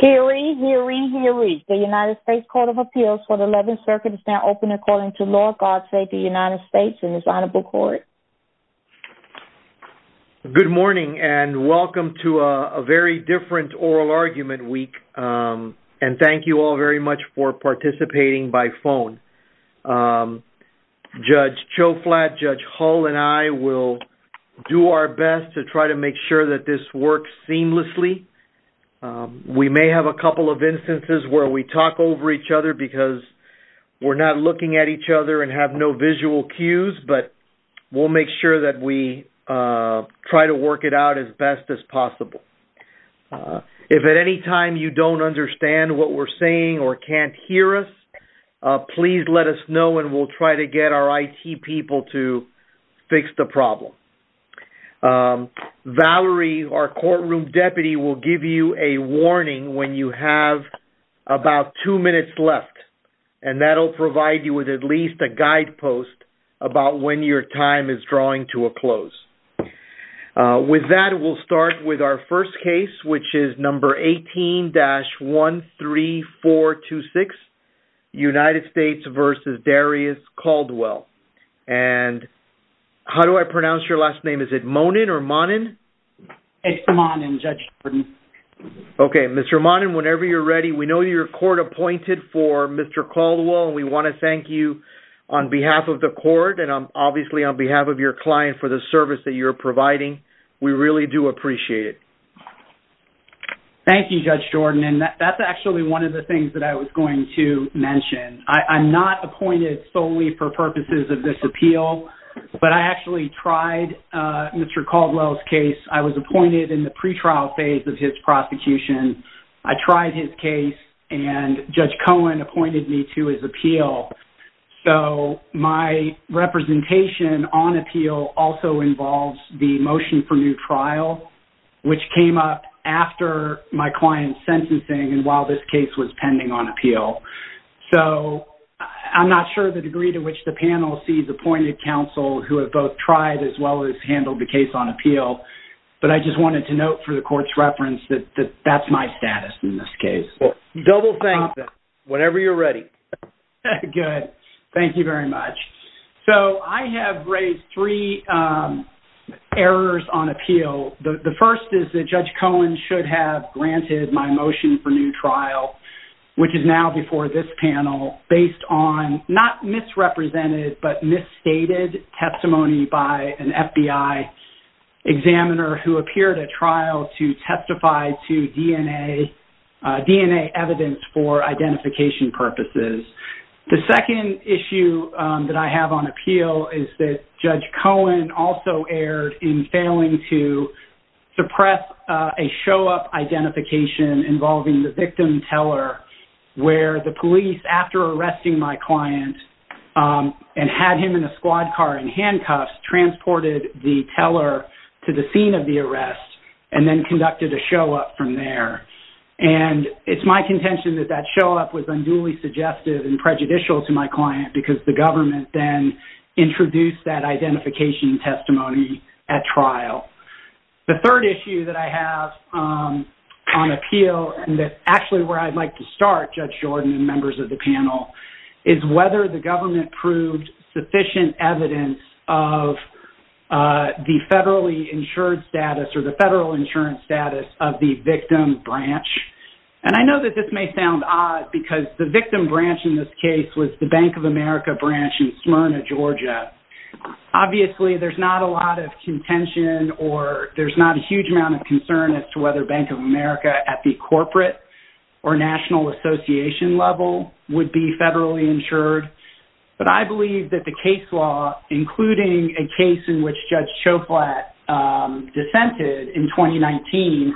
Hear ye, hear ye, hear ye. The United States Court of Appeals for the 11th Circuit is now open according to law. God save the United States and His Honorable Court. Good morning and welcome to a very different oral argument week and thank you all very much for participating by phone. Judge Cho Flatt, Judge Hull and I will do our best to try to make sure that this works seamlessly. We may have a couple of instances where we talk over each other because we're not looking at each other and have no visual cues but we'll make sure that we try to work it out as best as possible. If at any time you don't understand what we're saying or can't hear us, please let us know and we'll try to get our IT people to fix the problem. Valerie, our courtroom deputy, will give you a warning when you have about two minutes left and that'll provide you with at least a guidepost about when your time is drawing to a close. With that, we'll start with our first case which is number 18-13426, United States v. Darius Caldwell. How do I pronounce your last name? Is it Monin or Monin? It's Monin, Judge Jordan. Okay, Mr. Monin, whenever you're ready. We know you're court-appointed for Mr. Caldwell. We want to thank you on behalf of the court and obviously on behalf of your client for the service that you're providing. We really do appreciate it. Thank you, Judge Jordan. That's actually one of the things I wanted to mention. I'm not appointed solely for purposes of this appeal, but I actually tried Mr. Caldwell's case. I was appointed in the pre-trial phase of his prosecution. I tried his case and Judge Cohen appointed me to his appeal. So my representation on appeal also involves the motion for new trial, which came up after my client's sentencing and while this case was pending on appeal. So I'm not sure the degree to which the panel sees appointed counsel who have both tried as well as handled the case on appeal, but I just wanted to note for the court's reference that that's my status in this case. Well, double thank you, whenever you're ready. Good, thank you very much. So I have raised three errors on appeal. The first is that Judge Cohen should have granted my motion for new trial, which is now before this panel, based on not misrepresented but misstated testimony by an FBI examiner who appeared at trial to testify to DNA DNA evidence for identification purposes. The second issue that I have on appeal is that Judge Cohen also erred in failing to suppress a show-up identification involving the victim teller, where the police, after arresting my client and had him in a squad car in handcuffs, transported the teller to the scene of the arrest and then conducted a show-up from there. And it's my contention that that show-up was unduly suggestive and prejudicial to my client because the government then introduced that identification testimony at trial. The third issue that I have on appeal, and that's actually where I'd like to start, Judge Jordan and members of the panel, is whether the government proved sufficient evidence of the federally insured status or the federal insurance status of the victim branch. And I know that this may sound odd because the Bank of America branch in Smyrna, Georgia, obviously there's not a lot of contention or there's not a huge amount of concern as to whether Bank of America at the corporate or national association level would be federally insured. But I believe that the case law, including a case in which Judge Choplat dissented in 2019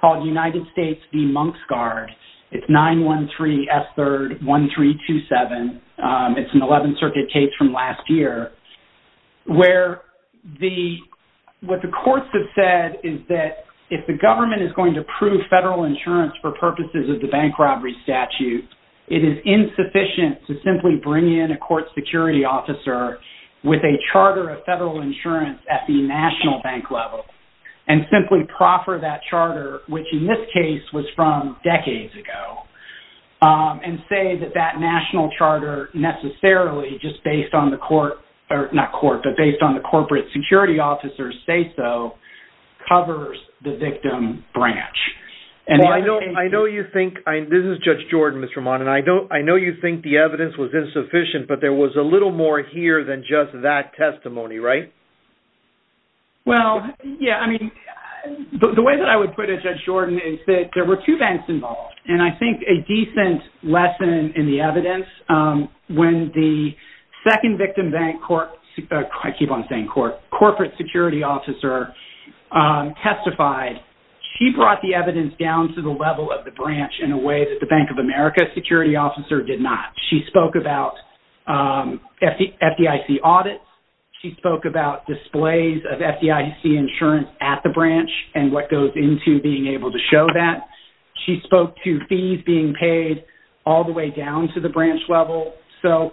called United States v. Monksguard. It's 913 S. 3rd 1327. It's an 11th Circuit case from last year, where what the courts have said is that if the government is going to prove federal insurance for purposes of the bank robbery statute, it is insufficient to simply bring in a court security officer with a charter of federal insurance at the national bank level and simply proffer that charter, which in this case was from decades ago, and say that that national charter necessarily, just based on the court, or not court, but based on the corporate security officers say so, covers the victim branch. And I know, I know you think, this is Judge Jordan, Mr. Mon, and I don't, I know you think the evidence was insufficient, but there was a little more here than just that The way that I would put it, Judge Jordan, is that there were two banks involved. And I think a decent lesson in the evidence, when the second victim bank court, I keep on saying court, corporate security officer testified, she brought the evidence down to the level of the branch in a way that the Bank of America security officer did not. She spoke about FDIC audits, she spoke about displays of FDIC insurance at the branch, and what goes into being able to show that. She spoke to fees being paid all the way down to the branch level. So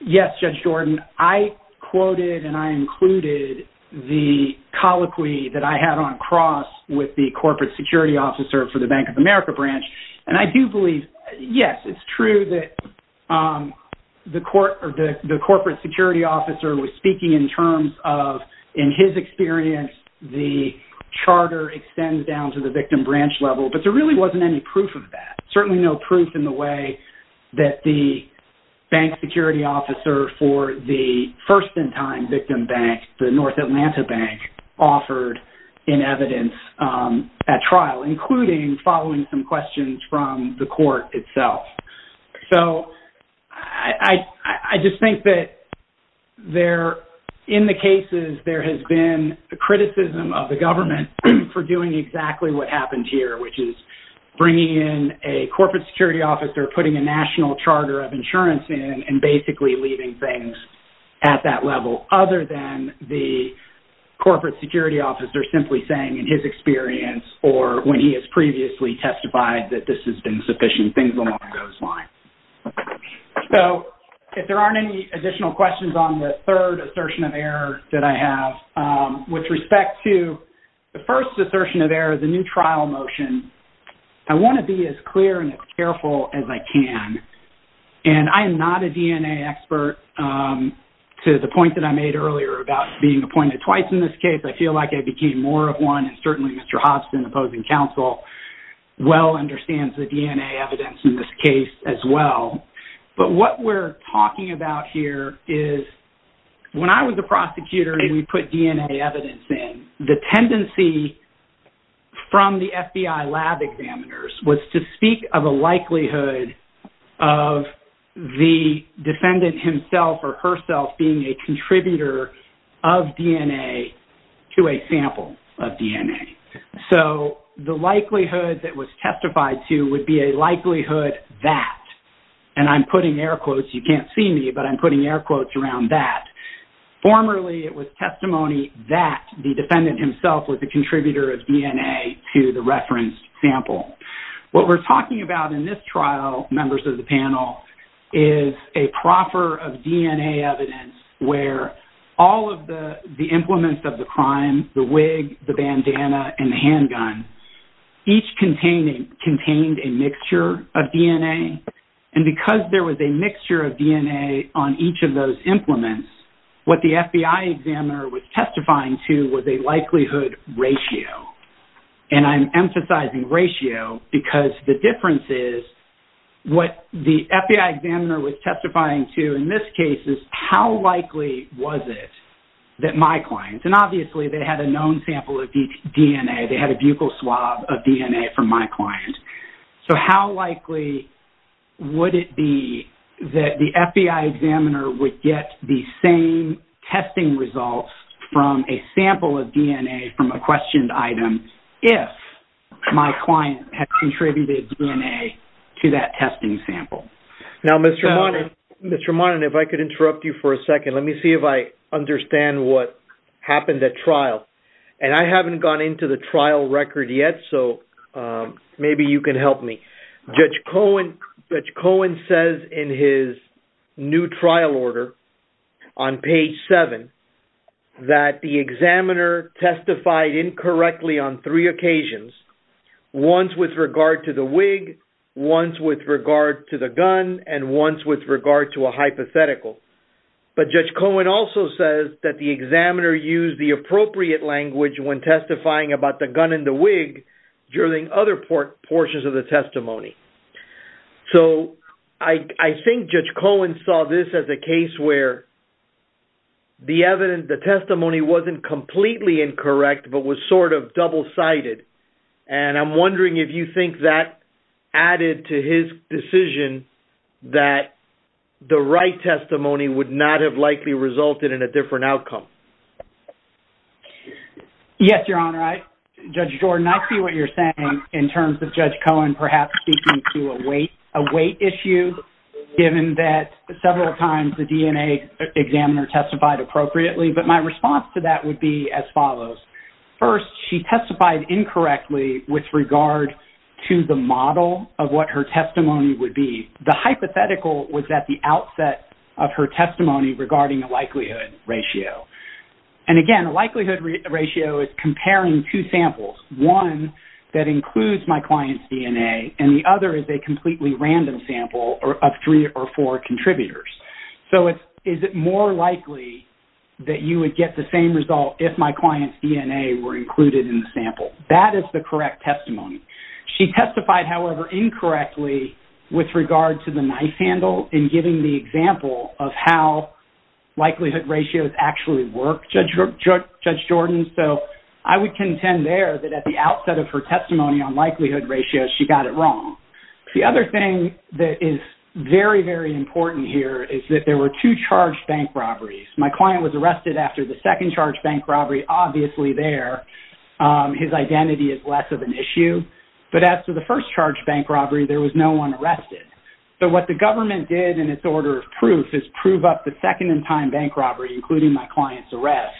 yes, Judge Jordan, I quoted and I included the colloquy that I had on cross with the corporate security officer for the Bank of America branch. And I do believe, yes, it's true that the court, or the corporate security officer was speaking in terms of, in his experience, the charter extends down to the victim branch level, but there really wasn't any proof of that. Certainly no proof in the way that the bank security officer for the first-in-time victim bank, the North Atlanta Bank, offered in evidence at trial, including following some questions from the court itself. So I just think that there, in the cases, there has been the criticism of the government for doing exactly what happened here, which is bringing in a corporate security officer, putting a national charter of insurance in, and basically leaving things at that level. Other than the corporate security officer simply saying, in his experience, or when he has previously testified that this has been sufficient, things along those lines. So if there aren't any additional questions on the third assertion of error that I have, with respect to the first assertion of error, the new trial motion, I want to be as clear and as careful as I can. And I am not a DNA expert, to the point that I made earlier about being appointed twice in this case. I feel like I became more of one, and certainly Mr. Hobson, opposing counsel, well understands the DNA evidence in this case as well. But what we're talking about here is, when I was a prosecutor and we put DNA evidence in, the tendency from the FBI lab examiners was to speak of a likelihood of the defendant himself or herself being a contributor of DNA. So the likelihood that was testified to would be a likelihood that, and I'm putting air quotes, you can't see me, but I'm putting air quotes around that. Formerly, it was testimony that the defendant himself was the contributor of DNA to the referenced sample. What we're talking about in this trial, members of the panel, is a proffer of DNA evidence where all of the implements of the crime, the wig, the bandana, and the handgun, each contained a mixture of DNA. And because there was a mixture of DNA on each of those implements, what the FBI examiner was testifying to was a likelihood ratio. And I'm emphasizing ratio because the difference is, what the FBI examiner was testifying to was a sample of DNA from my client. And obviously, they had a known sample of DNA. They had a buccal swab of DNA from my client. So how likely would it be that the FBI examiner would get the same testing results from a sample of DNA from a questioned item if my client had contributed DNA to that testing sample? Now, Mr. Monin, if I could interrupt you for a second, let me see if I understand what happened at trial. And I haven't gone into the trial record yet, so maybe you can help me. Judge Cohen says in his new trial order on page 7 that the examiner testified incorrectly on three occasions, once with regard to the wig, once with regard to the gun, and once with regard to a hypothetical. But Judge Cohen also says that the examiner used the appropriate language when testifying about the gun and the wig during other portions of the testimony. So I think Judge Cohen saw this as a case where the evidence, the testimony wasn't completely incorrect but was sort of double-sided. And I'm wondering if you think that added to his decision that the right testimony would not have likely resulted in a different outcome. Yes, Your Honor. Judge Jordan, I see what you're saying in terms of Judge Cohen perhaps speaking to a weight issue, given that several times the DNA examiner testified appropriately. But my response to that would be as follows. First, she testified incorrectly with regard to the model of what her testimony would be. The hypothetical was at the outset of her testimony regarding a likelihood ratio. And again, a likelihood ratio is comparing two samples, one that includes my client's DNA and the other is a completely random sample of three or four contributors. So is it more likely that you would get the same result if my client had the same sample? That is the correct testimony. She testified, however, incorrectly with regard to the knife handle in giving the example of how likelihood ratios actually work, Judge Jordan. So I would contend there that at the outset of her testimony on likelihood ratios, she got it wrong. The other thing that is very, very important here is that there were two charged bank robberies. My client was arrested after the second charged bank robbery, obviously there, his identity is less of an issue. But after the first charged bank robbery, there was no one arrested. So what the government did in its order of proof is prove up the second in time bank robbery, including my client's arrest,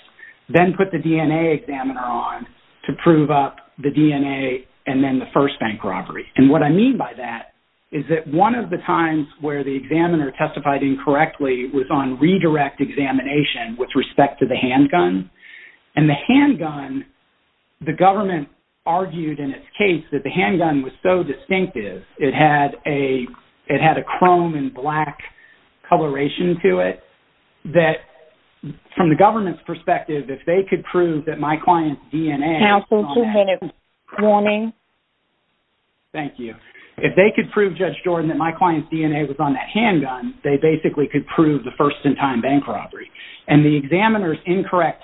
then put the DNA examiner on to prove up the DNA and then the first bank robbery. And what I mean by that is that one of the times where the examiner testified incorrectly was on redirect examination with respect to the handgun, and the handgun, the government argued in its case that the handgun was so distinctive, it had a chrome and black coloration to it, that from the government's perspective, if they could prove that my client's DNA was on that handgun... Thank you. If they could prove, Judge Jordan, that my client's DNA was on that handgun, they basically could prove the first in time bank robbery. And the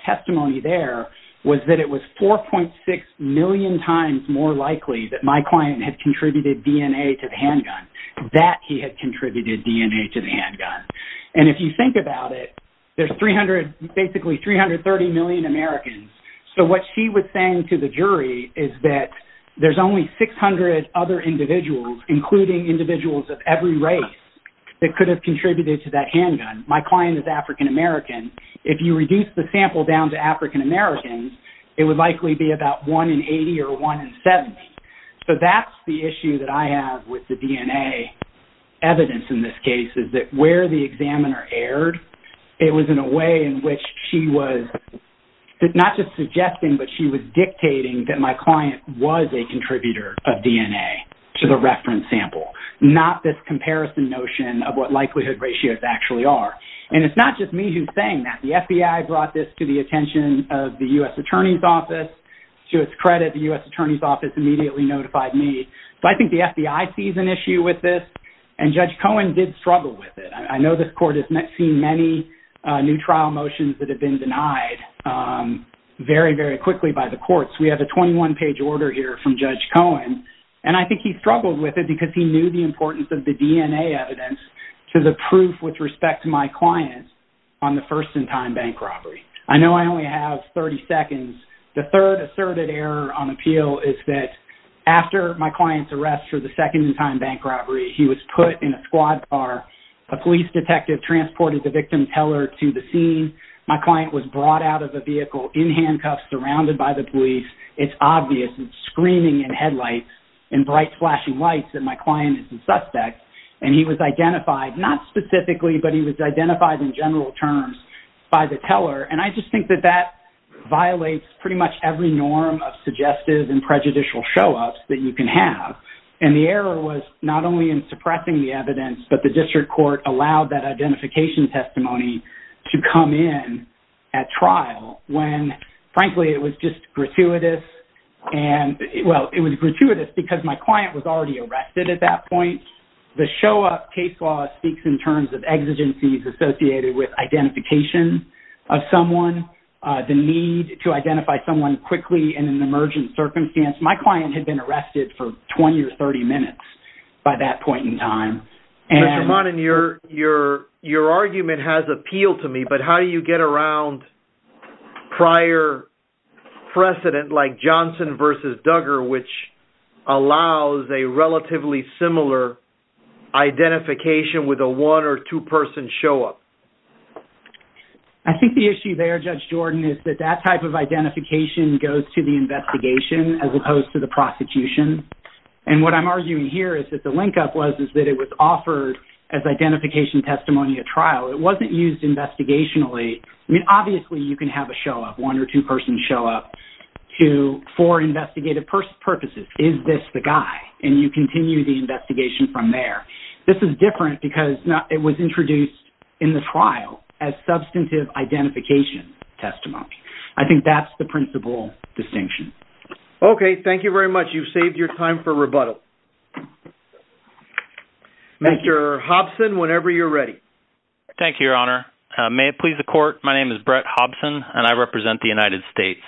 testimony there was that it was 4.6 million times more likely that my client had contributed DNA to the handgun, that he had contributed DNA to the handgun. And if you think about it, there's 300, basically 330 million Americans. So what she was saying to the jury is that there's only 600 other individuals, including individuals of every race, that could have contributed to that handgun. My client is African American. If you reduce the sample down to African Americans, it would likely be about 1 in 80 or 1 in 70. So that's the issue that I have with the DNA evidence in this case, is that where the examiner erred, it was in a way in which she was not just suggesting, but she was dictating that my client was a contributor of DNA to the reference sample, not this comparison notion of what likelihood ratios actually are. And it's not just me who's saying that. The FBI brought this to the attention of the U.S. Attorney's Office. To its credit, the U.S. Attorney's Office immediately notified me. So I think the FBI sees an issue with this, and Judge Cohen did struggle with it. I know this court has seen many new trial motions that have been denied very, very quickly by the courts. We have a 21-page order here from Judge Cohen, and I think he struggled with it because he knew the importance of the DNA evidence to the proof with respect to my client on the first-in-time bank robbery. I know I only have 30 seconds. The third asserted error on appeal is that after my client's arrest for the second-in-time bank robbery, he was put in a squad car. A police detective transported the victim's heller to the scene. My client was brought out of the vehicle in handcuffs, surrounded by the police. It's obvious. There's screaming and headlights and bright flashing lights that my client is the suspect, and he was identified, not specifically, but he was identified in general terms by the teller, and I just think that that violates pretty much every norm of suggestive and prejudicial show-ups that you can have, and the error was not only in suppressing the evidence, but the district court allowed that identification testimony to come in at trial when, frankly, it was just gratuitous, and, well, it was gratuitous because my client was already arrested at that point. The show-up case law speaks in terms of exigencies associated with identification of someone, the need to identify someone quickly in an emergent circumstance. My client had been arrested for 20 or 30 minutes by that point in time. Mr. Monnin, your argument has appealed to me, but how do you get around prior precedent, like Johnson versus Duggar, which allows a relatively similar identification with a one- or two-person show-up? I think the issue there, Judge Jordan, is that that type of identification goes to the investigation as opposed to the prosecution, and what I'm arguing here is that the link-up was is that it was offered as identification testimony at trial. It wasn't used investigationally. I mean, obviously, you can have a show-up, one- or two-person show-up, for investigative purposes. Is this the guy? And you continue the investigation from there. This is different because it was introduced in the trial as substantive identification testimony. I think that's the principal distinction. Okay, thank you very much. You've saved your time for rebuttal. Mr. Hobson, whenever you're ready. Thank you, Your Honor. May it please the court, my name is Brett Hobson, and I represent the United States.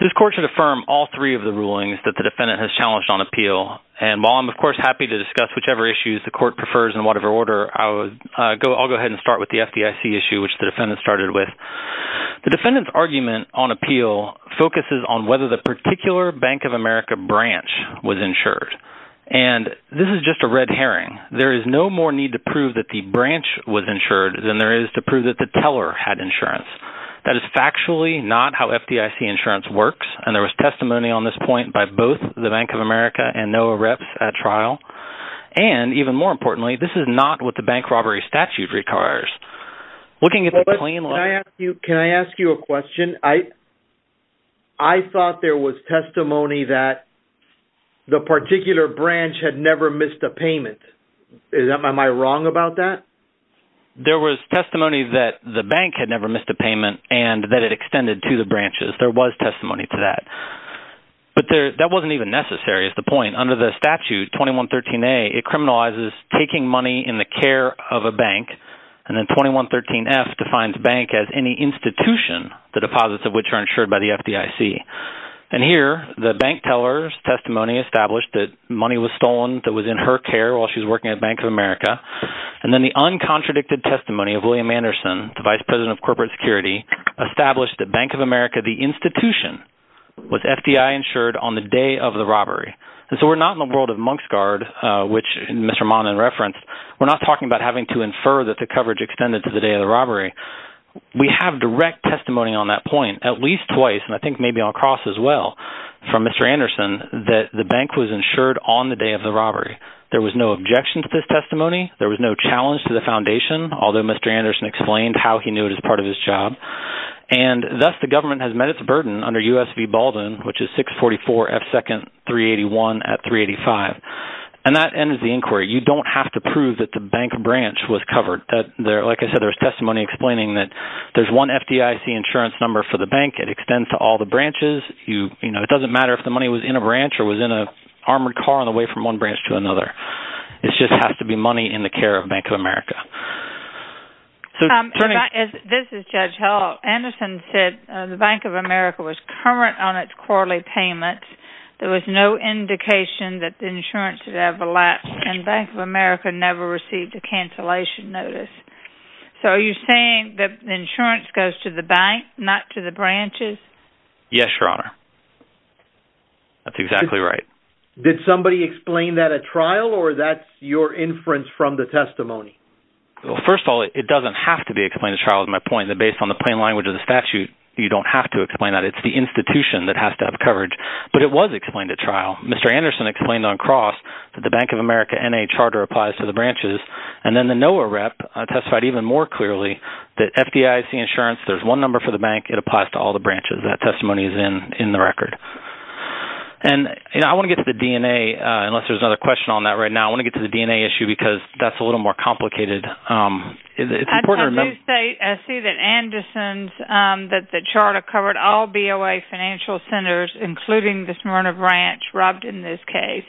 This court should affirm all three of the rulings that the defendant has challenged on appeal, and while I'm, of course, happy to discuss whichever issues the court prefers in whatever order, I'll go ahead and start with the FDIC issue, which the defendant started with. The defendant's argument on appeal focuses on whether the particular Bank of America branch was insured, and this is just a red herring. There is no more need to prove that the branch was insured than there is to prove that the teller had insurance. That is factually not how FDIC insurance works, and there was testimony on this point by both the Bank of America and NOAA reps at trial, and even more importantly, this is not what the bank robbery statute requires. Looking at the plain language... Can I ask you a question? I thought there was testimony that the particular branch had never missed a payment. Am I wrong about that? There was testimony that the bank had never missed a payment, and that it extended to the branches. There was testimony to that, but that wasn't even necessary, is the point. Under the statute, 2113A, it criminalizes taking money in the care of a bank, and then the deposits of which are insured by the FDIC. And here, the bank teller's testimony established that money was stolen that was in her care while she's working at Bank of America, and then the uncontradicted testimony of William Anderson, the Vice President of Corporate Security, established that Bank of America, the institution, was FDI insured on the day of the robbery. And so we're not in the world of Monk's Guard, which Mr. Monnan referenced. We're not talking about having to infer that the coverage extended to the day of the robbery. We have direct testimony on that point, at least twice, and I think maybe I'll cross as well from Mr. Anderson, that the bank was insured on the day of the robbery. There was no objection to this testimony. There was no challenge to the foundation, although Mr. Anderson explained how he knew it as part of his job. And thus, the government has met its burden under US v. Baldwin, which is 644 F 2nd 381 at 385. And that ends the inquiry. You don't have to prove that the bank branch was covered. Like I said, there's testimony explaining that there's one FDIC insurance number for the bank. It extends to all the branches. You know, it doesn't matter if the money was in a branch or was in a armored car on the way from one branch to another. It just has to be money in the care of Bank of America. This is Judge Hall. Anderson said the Bank of America was current on its quarterly payment. There was no indication that the insurance had ever lapsed, and Bank of America never received a cancellation notice. So are you saying that the insurance goes to the bank, not to the branches? Yes, Your Honor. That's exactly right. Did somebody explain that at trial or that's your inference from the testimony? Well, first of all, it doesn't have to be explained at trial, is my point. Based on the plain language of the statute, you don't have to explain that. It's the institution that has to have coverage. But it was explained at trial. Mr. Anderson explained on cross that the BOA rep testified even more clearly that FDIC insurance, there's one number for the bank, it applies to all the branches. That testimony is in in the record. And you know, I want to get to the DNA, unless there's another question on that right now. I want to get to the DNA issue because that's a little more complicated. It's important to remember. I do see that Anderson's, that the charter covered all BOA financial centers, including the Smyrna branch, robbed in this case,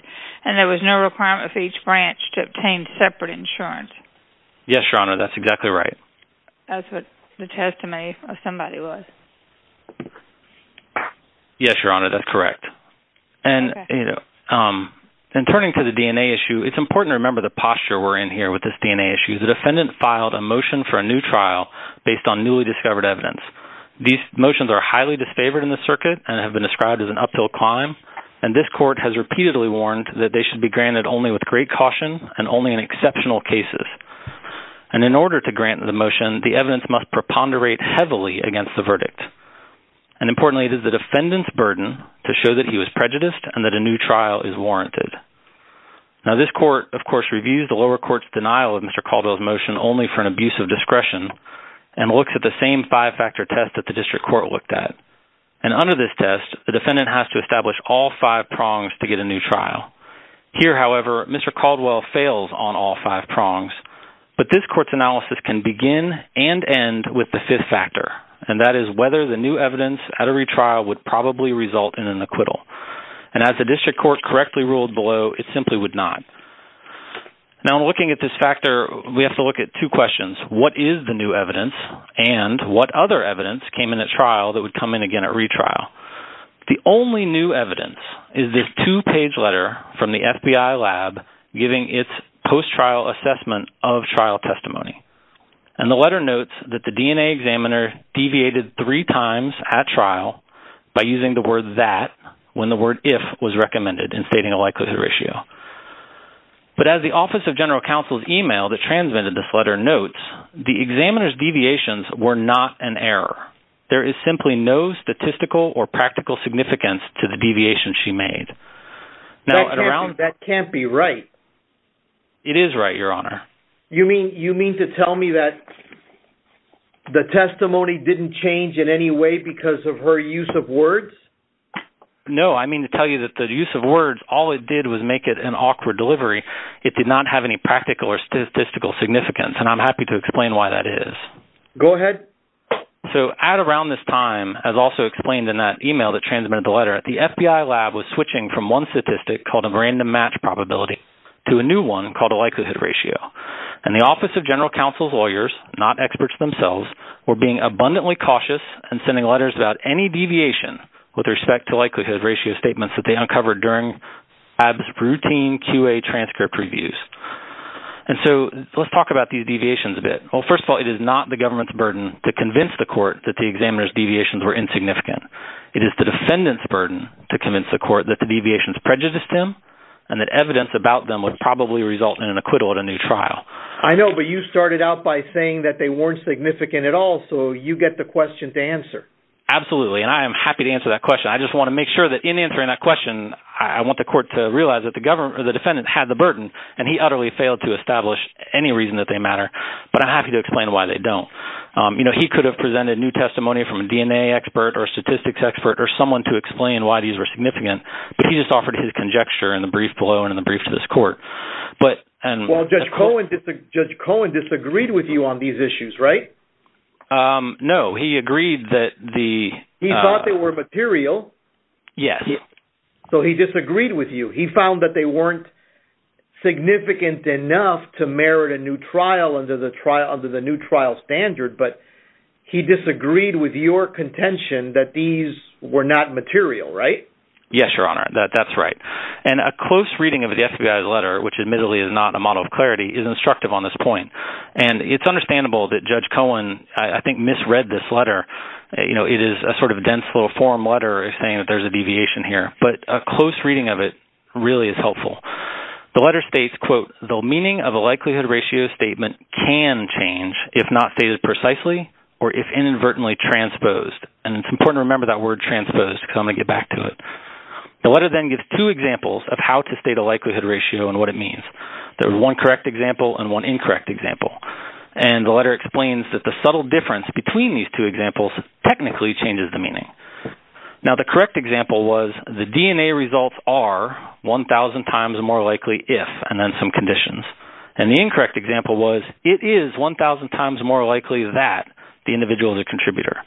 and there was no requirement for each branch to obtain separate insurance. Yes, Your Honor, that's exactly right. That's what the testimony of somebody was. Yes, Your Honor, that's correct. And, you know, and turning to the DNA issue, it's important to remember the posture we're in here with this DNA issue. The defendant filed a motion for a new trial based on newly discovered evidence. These motions are highly disfavored in the circuit and have been described as an uphill climb, and this court has repeatedly warned that they should be granted only with great caution and only in exceptional cases. And in order to grant the motion, the evidence must preponderate heavily against the verdict. And importantly, it is the defendant's burden to show that he was prejudiced and that a new trial is warranted. Now, this court, of course, reviews the lower court's denial of Mr. Caldwell's motion only for an abuse of discretion and looks at the same five-factor test that the district court looked at. And under this test, the defendant has to establish all five prongs to get a new trial. Here, however, Mr. Caldwell fails on all five prongs, but this court's analysis can begin and end with the fifth factor, and that is whether the new evidence at a retrial would probably result in an acquittal. And as the district court correctly ruled below, it simply would not. Now, in looking at this factor, we have to look at two questions. What is the new evidence, and what other evidence came in at trial that would come in again at trial? We have this two-page letter from the FBI lab giving its post-trial assessment of trial testimony. And the letter notes that the DNA examiner deviated three times at trial by using the word that when the word if was recommended in stating a likelihood ratio. But as the Office of General Counsel's email that transmitted this letter notes, the examiner's deviations were not an error. There is simply no statistical or practical significance to the deviation she made. That can't be right. It is right, Your Honor. You mean you mean to tell me that the testimony didn't change in any way because of her use of words? No, I mean to tell you that the use of words, all it did was make it an awkward delivery. It did not have any practical or statistical significance, and I'm happy to explain why that is. Go ahead. So at around this time, as also explained in that email that transmitted the letter, the FBI lab was switching from one statistic called a random match probability to a new one called a likelihood ratio. And the Office of General Counsel's lawyers, not experts themselves, were being abundantly cautious and sending letters about any deviation with respect to likelihood ratio statements that they uncovered during Ab's routine QA transcript reviews. And so let's talk about these deviations a bit. Well, first of all, it is not the government's burden to convince the court that the examiner's deviations were insignificant. It is the defendant's burden to convince the court that the deviations prejudiced him and that evidence about them would probably result in an acquittal at a new trial. I know, but you started out by saying that they weren't significant at all, so you get the question to answer. Absolutely, and I am happy to answer that question. I just want to make sure that in answering that question, I want the court to realize that the defendant had the burden, and he utterly failed to establish any reason that they matter. But I'm happy to explain why they don't. You know, he could have presented new testimony from a DNA expert, or a statistics expert, or someone to explain why these were significant, but he just offered his conjecture in the brief below and in the brief to this court. Well, Judge Cohen disagreed with you on these issues, right? No, he agreed that the... He thought they were material. Yes. So he disagreed with you. He found that they weren't significant enough to merit a new trial under the new trial standard, but he disagreed with your contention that these were not material, right? Yes, Your Honor, that's right. And a close reading of the FBI's letter, which admittedly is not a model of clarity, is instructive on this point. And it's understandable that Judge Cohen, I think, misread this letter. You know, it is a sort of dense little form letter saying that there's a deviation here, but a close reading of it really is helpful. The letter states, quote, the meaning of a letter can change if not stated precisely or if inadvertently transposed. And it's important to remember that word transposed, because I'm going to get back to it. The letter then gives two examples of how to state a likelihood ratio and what it means. There's one correct example and one incorrect example. And the letter explains that the subtle difference between these two examples technically changes the meaning. Now, the correct example was the DNA results are 1,000 times more likely if, and then some conditions. And the incorrect example was it is 1,000 times more likely that the individual is a contributor.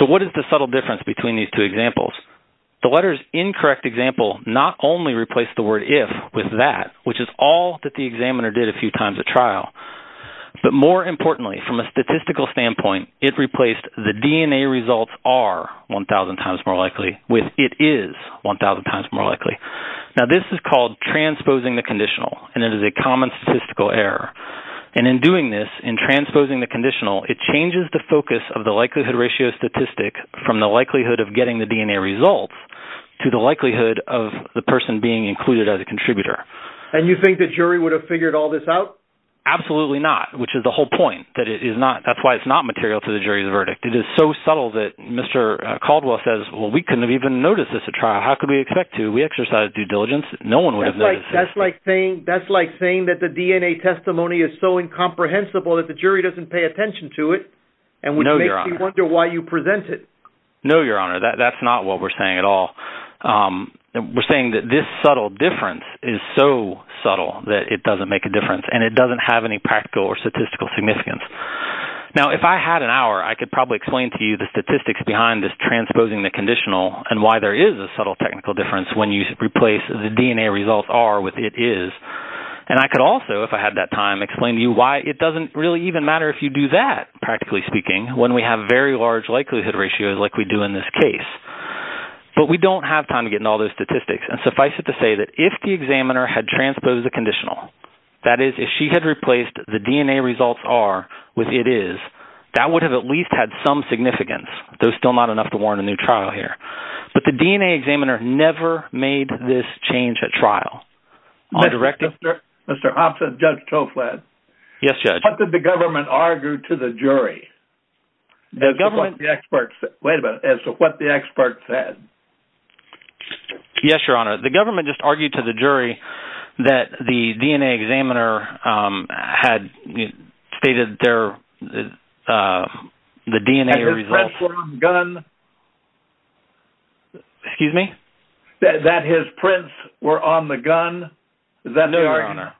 So, what is the subtle difference between these two examples? The letter's incorrect example not only replaced the word if with that, which is all that the examiner did a few times at trial, but more importantly, from a statistical standpoint, it replaced the DNA results are 1,000 times more likely with it is 1,000 times more likely. Now, this is called transposing the conditional, and it is a common statistical error. And in doing this, in transposing the conditional, it changes the focus of the likelihood ratio statistic from the likelihood of getting the DNA results to the likelihood of the person being included as a contributor. And you think the jury would have figured all this out? Absolutely not, which is the whole point that it is not. That's why it's not material to the jury's verdict. It is so subtle that Mr. Caldwell says, well, we couldn't have even noticed this at trial. How could we expect to? We exercised due diligence. No one would have noticed. That's like saying that the DNA testimony is so incomprehensible that the jury doesn't pay attention to it, and which makes me wonder why you present it. No, Your Honor, that's not what we're saying at all. We're saying that this subtle difference is so subtle that it doesn't make a difference, and it doesn't have any practical or statistical significance. Now, if I had an hour, I could probably explain to you the statistics behind this transposing the conditional and why there is a subtle technical difference when you replace the DNA results are with it is. And I could also, if I had that time, explain to you why it doesn't really even matter if you do that, practically speaking, when we have very large likelihood ratios like we do in this case. But we don't have time to get into all those statistics. And suffice it to say that if the examiner had transposed the conditional, that is, if she had replaced the DNA results are with it is, that would have at least had some significance. There's still not enough to warrant a new trial here. But the DNA examiner never made this change at trial. Mr. Hobson, Judge Toflad. Yes, Judge. What did the government argue to the jury? The government, the experts, wait a minute, as to what the experts said? Yes, Your Honor, the government just argued to the jury that the DNA examiner had stated their, the DNA results, excuse me, that his prints were on the gun. Is that true, Your Honor?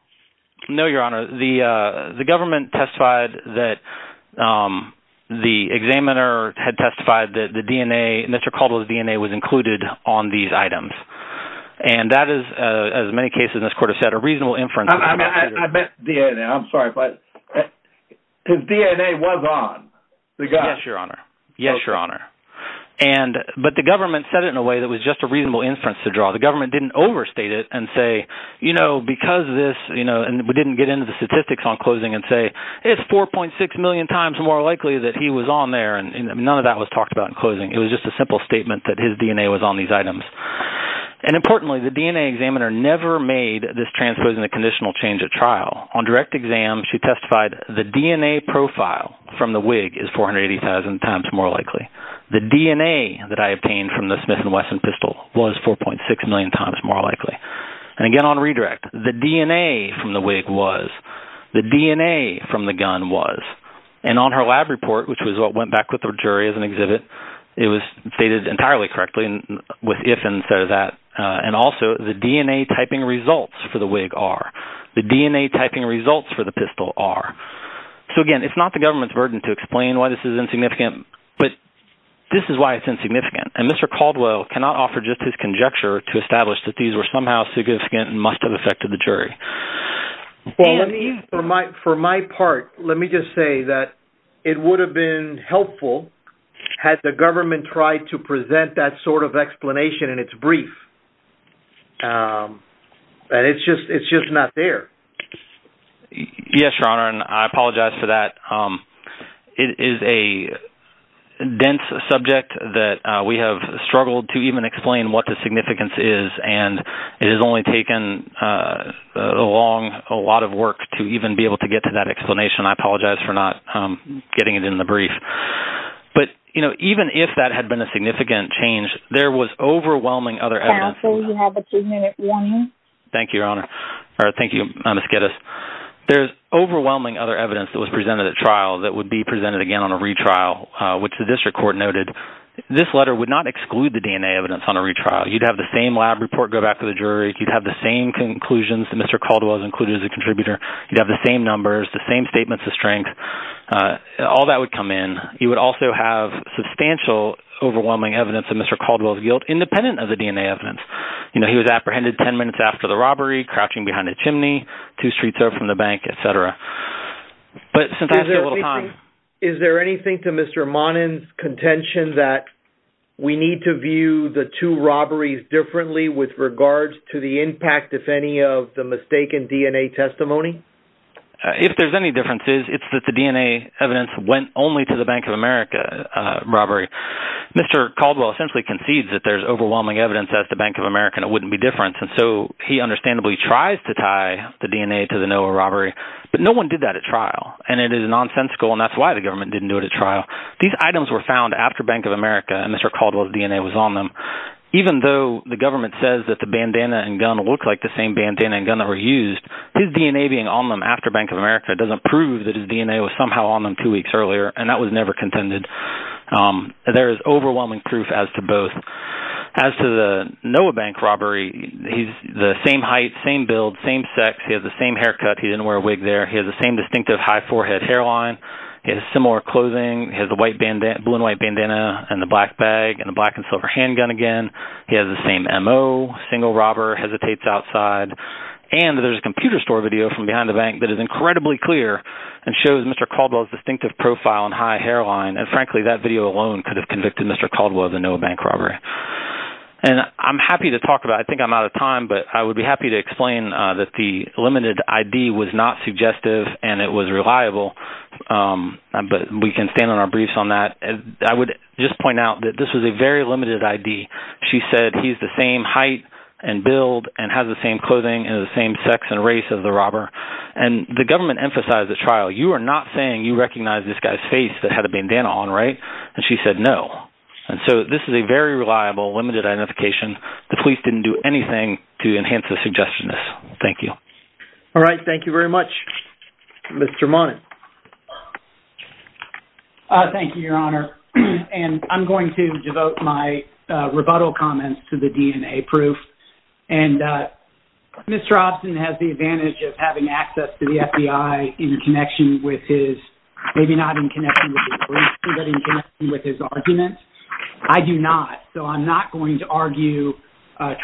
No, Your Honor. The government testified that the examiner had testified that the DNA, Mr. Caldwell's DNA was included on these items. And that is, as many cases in this court have said, a reasonable inference. I meant DNA. I'm sorry, but his DNA was on the gun. Yes, Your Honor. Yes, Your Honor. And, but the government said it in a way that was just a reasonable inference to draw. The government didn't overstate it and say, you know, because this, you know, and we didn't get into the statistics on closing and say, it's 4.6 million times more likely that he was on there. And none of that was talked about in closing. It was just a simple statement that his DNA was on these items. And importantly, the DNA examiner never made this transposing a conditional change at trial. On direct exam, she testified the DNA profile from the wig is 480,000 times more likely. The DNA that I obtained from the Smith and Wesson pistol was 4.6 million times more likely. And again, on redirect, the DNA from the wig was, the DNA from the gun was, and on her lab report, which was what went back with the jury as an exhibit, it was stated entirely correctly with if instead of that. And also the DNA typing results for the wig are, the DNA typing results for the pistol are. So again, it's not the government's burden to explain why this is insignificant, but this is why it's insignificant. And Mr. Caldwell cannot offer just his conjecture to establish that these were somehow significant and must have affected the jury. Well, let me, for my, for my part, let me just say that it would have been helpful had the government tried to present that sort of explanation in its brief. And it's just, it's just not there. Yes, Your Honor. And I apologize for that. It is a dense subject that we have struggled to even explain what the significance is. And it has only taken a long, a lot of work to even be able to get to that explanation. I apologize for not getting it in the brief, but you know, even if that had been a significant change, there was overwhelming other evidence. Counsel, you have a two minute warning. Thank you, Your Honor. Thank you, Ms. Geddes. There's overwhelming other evidence that was presented at trial that would be presented again on a retrial, which the district court noted. This letter would not exclude the DNA evidence on a retrial. You'd have the same lab report go back to the jury. You'd have the same conclusions that Mr. Caldwell has included as a contributor. You'd have the same numbers, the same statements of strength. All that would come in. You would also have substantial, overwhelming evidence of Mr. Caldwell's guilt, independent of the DNA evidence. You would apprehend him 10 minutes after the robbery, crouching behind a chimney, two streets away from the bank, et cetera. Is there anything to Mr. Monin's contention that we need to view the two robberies differently with regards to the impact, if any, of the mistaken DNA testimony? If there's any differences, it's that the DNA evidence went only to the Bank of America robbery. Mr. Caldwell essentially concedes that there's difference. He understandably tries to tie the DNA to the NOAA robbery, but no one did that at trial. It is nonsensical, and that's why the government didn't do it at trial. These items were found after Bank of America, and Mr. Caldwell's DNA was on them. Even though the government says that the bandana and gun looked like the same bandana and gun that were used, his DNA being on them after Bank of America doesn't prove that his DNA was somehow on them two weeks earlier, and that was never contended. There is overwhelming proof as to both. As to the NOAA bank robbery, he's the same height, same build, same sex. He has the same haircut. He didn't wear a wig there. He has the same distinctive high forehead hairline. He has similar clothing. He has the blue and white bandana and the black bag and the black and silver handgun again. He has the same MO, single robber, hesitates outside. And there's a computer store video from behind the bank that is incredibly clear and shows Mr. Caldwell's distinctive profile and high hairline. And frankly, that video alone could have convicted Mr. Caldwell of the NOAA bank robbery. And I'm happy to talk about it. I think I'm out of time, but I would be happy to explain that the limited ID was not suggestive and it was reliable, but we can stand on our briefs on that. I would just point out that this was a very limited ID. She said he's the same height and build and has the same clothing and the same sex and race of the robber. And the government emphasized at trial, you are not saying you recognize this guy's face that had a bandana on, right? And she said, no. And so this is a very reliable, limited identification. The police didn't do anything to enhance the suggestion. Thank you. All right. Thank you very much, Mr. Monning. Thank you, Your Honor. And I'm going to devote my rebuttal comments to the DNA proof. And Mr. Robson has the advantage of having access to the FBI in connection with his argument. I do not. So I'm not going to argue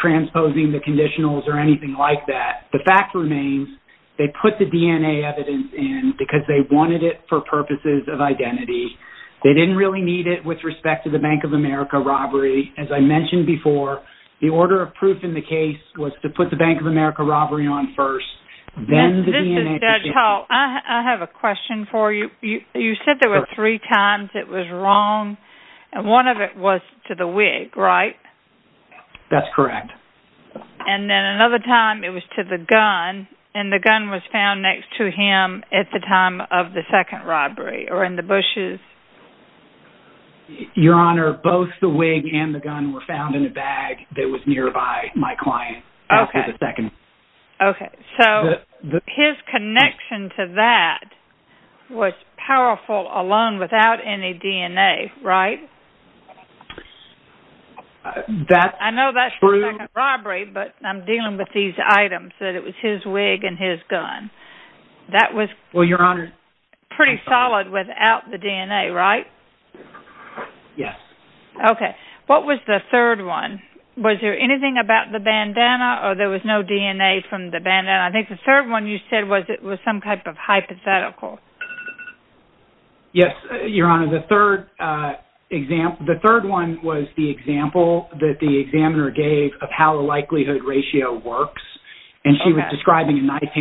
transposing the conditionals or anything like that. The fact remains they put the DNA evidence in because they wanted it for purposes of identity. They didn't really need it with respect to the Bank of America robbery. As I mentioned before, the order of proof in the case was to put the Bank of America robbery on first, then the DNA. I have a question for you. You said there were three times it was wrong and one of it was to the wig, right? That's correct. And then another time it was to the gun and the gun was found next to him at the time of the second robbery or in the bushes. Your Honor, both the wig and the gun were found in a bag that was nearby my client. Okay. So his connection to that was powerful alone without any DNA, right? That's true. I know that's like a robbery, but I'm dealing with these items that it was his wig and his gun. That was pretty solid without the DNA, right? Yes. Okay. What was the third one? Was there anything about the bandana or there was no DNA from the bandana? I think the third one you said was some type of hypothetical. Yes, Your Honor. The third one was the example that the examiner gave of how the likelihood ratio works and she was describing a knife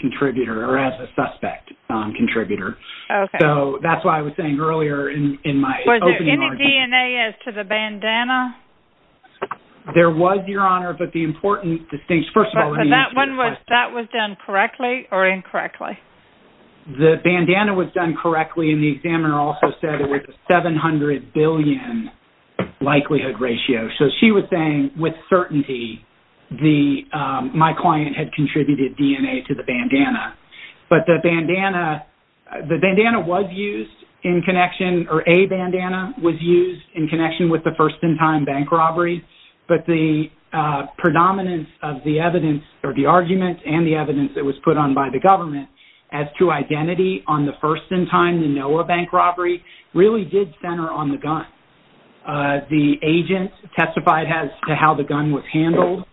contributor or as a suspect contributor. Okay. So that's why I was saying earlier in my opening argument. Was there any DNA as to the bandana? There was, Your Honor, but the important distinction... First of all, let me answer your question. That was done correctly or incorrectly? The bandana was done correctly and the examiner also said it was a 700 billion likelihood ratio. So she was saying with certainty my client had contributed DNA to the bandana, but the bandana was used in connection or a bandana was used in connection with the first in time bank robbery, but the predominance of the evidence or the argument and the evidence that was put on by the government as to identity on the first in time, the NOAA bank robbery, really did center on the gun. The agent testified as to how the gun was handled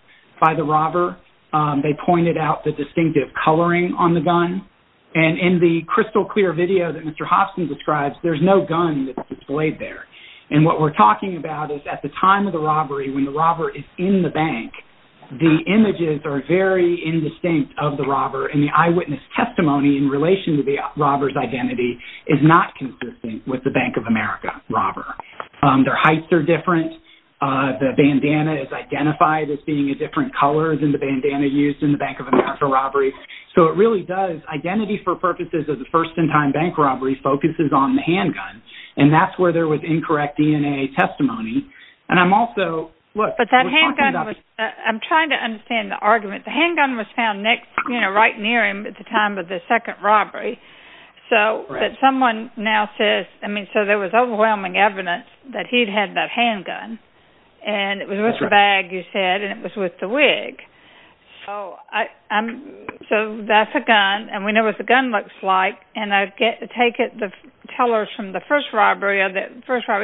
by the robber. They pointed out the distinctive coloring on the gun and in the crystal clear video that Mr. Hobson describes, there's no gun that's displayed there and what we're talking about is at the time of the robbery when the robber is in the bank, the images are very indistinct of the robber and the eyewitness testimony in relation to the robber's identity is not consistent with the Bank of America robber. Their heights are different. The bandana is identified as being a different color than the bandana used in the Bank of America robbery. So it really does, identity for purposes of the first in time bank robbery focuses on the handgun and that's where there was incorrect DNA testimony. And I'm also, look, I'm trying to understand the argument. The handgun was found next, you know, right near him at the time of the second robbery. So that someone now says, I mean, there was overwhelming evidence that he'd had that handgun and it was with the bag, you said, and it was with the wig. So that's a gun and we know what the gun looks like and I take it the tellers from the first robbery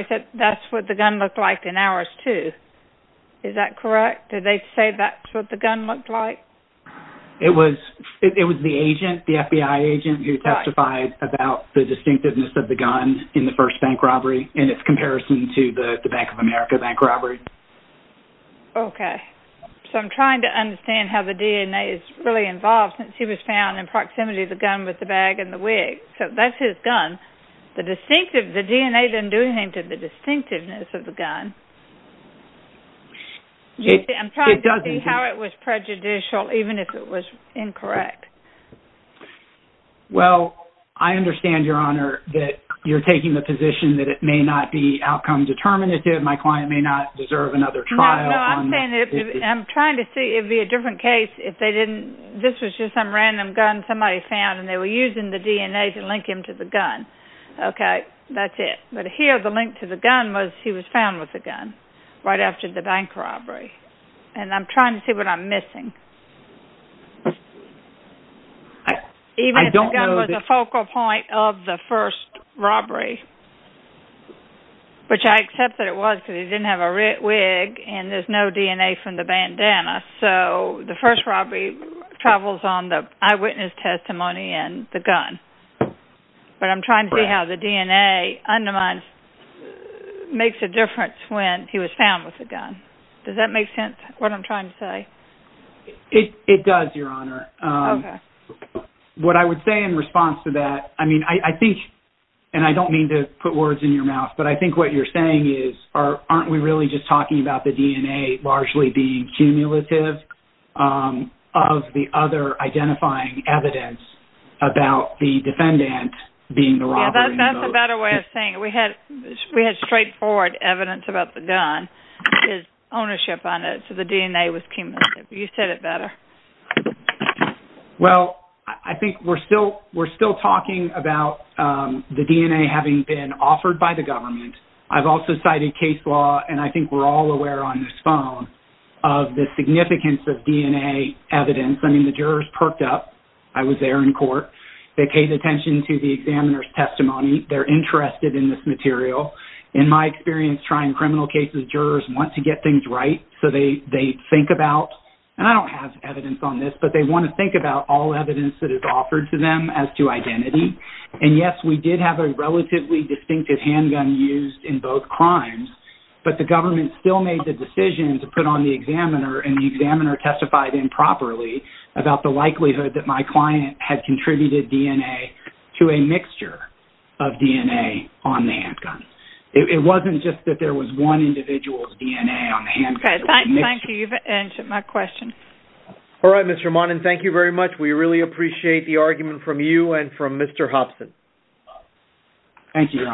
said that's what the gun looked like in hours too. Is that correct? Did they say that's what the gun looked like? It was the agent, the FBI agent who testified about the first bank robbery in its comparison to the Bank of America bank robbery. Okay. So I'm trying to understand how the DNA is really involved since he was found in proximity of the gun with the bag and the wig. So that's his gun. The distinctive, the DNA didn't do anything to the distinctiveness of the gun. I'm trying to see how it was prejudicial, even if it was incorrect. Well, I understand your that you're taking the position that it may not be outcome determinative. My client may not deserve another trial. I'm trying to see it'd be a different case. If they didn't, this was just some random gun somebody found and they were using the DNA to link him to the gun. Okay. That's it. But here the link to the gun was he was found with a gun right after the bank robbery. And I'm trying to see what I'm missing. Even if the gun was a focal point of the first robbery, which I accept that it was because he didn't have a wig and there's no DNA from the bandana. So the first robbery travels on the eyewitness testimony and the gun. But I'm trying to see how the DNA undermines, makes a difference when he was found with a gun. Does that make sense? What I'm trying to say. It does, Your Honor. Okay. What I would say in response to that, I mean, I think, and I don't mean to put words in your mouth, but I think what you're saying is, aren't we really just talking about the DNA largely being cumulative of the other identifying evidence about the defendant being the robber? That's a better way of saying it. We had DNA was cumulative. You said it better. Well, I think we're still talking about the DNA having been offered by the government. I've also cited case law, and I think we're all aware on this phone of the significance of DNA evidence. I mean, the jurors perked up. I was there in court. They paid attention to the examiner's testimony. They're interested in this material. In my think about, and I don't have evidence on this, but they want to think about all evidence that is offered to them as to identity. And yes, we did have a relatively distinctive handgun used in both crimes, but the government still made the decision to put on the examiner and the examiner testified improperly about the likelihood that my client had contributed DNA to a mixture of DNA on the handgun. It wasn't just that there was one individual's DNA on the handgun. Okay, thank you. You've answered my question. All right, Mr. Monin, thank you very much. We really appreciate the argument from you and from Mr. Hobson. Thank you, John.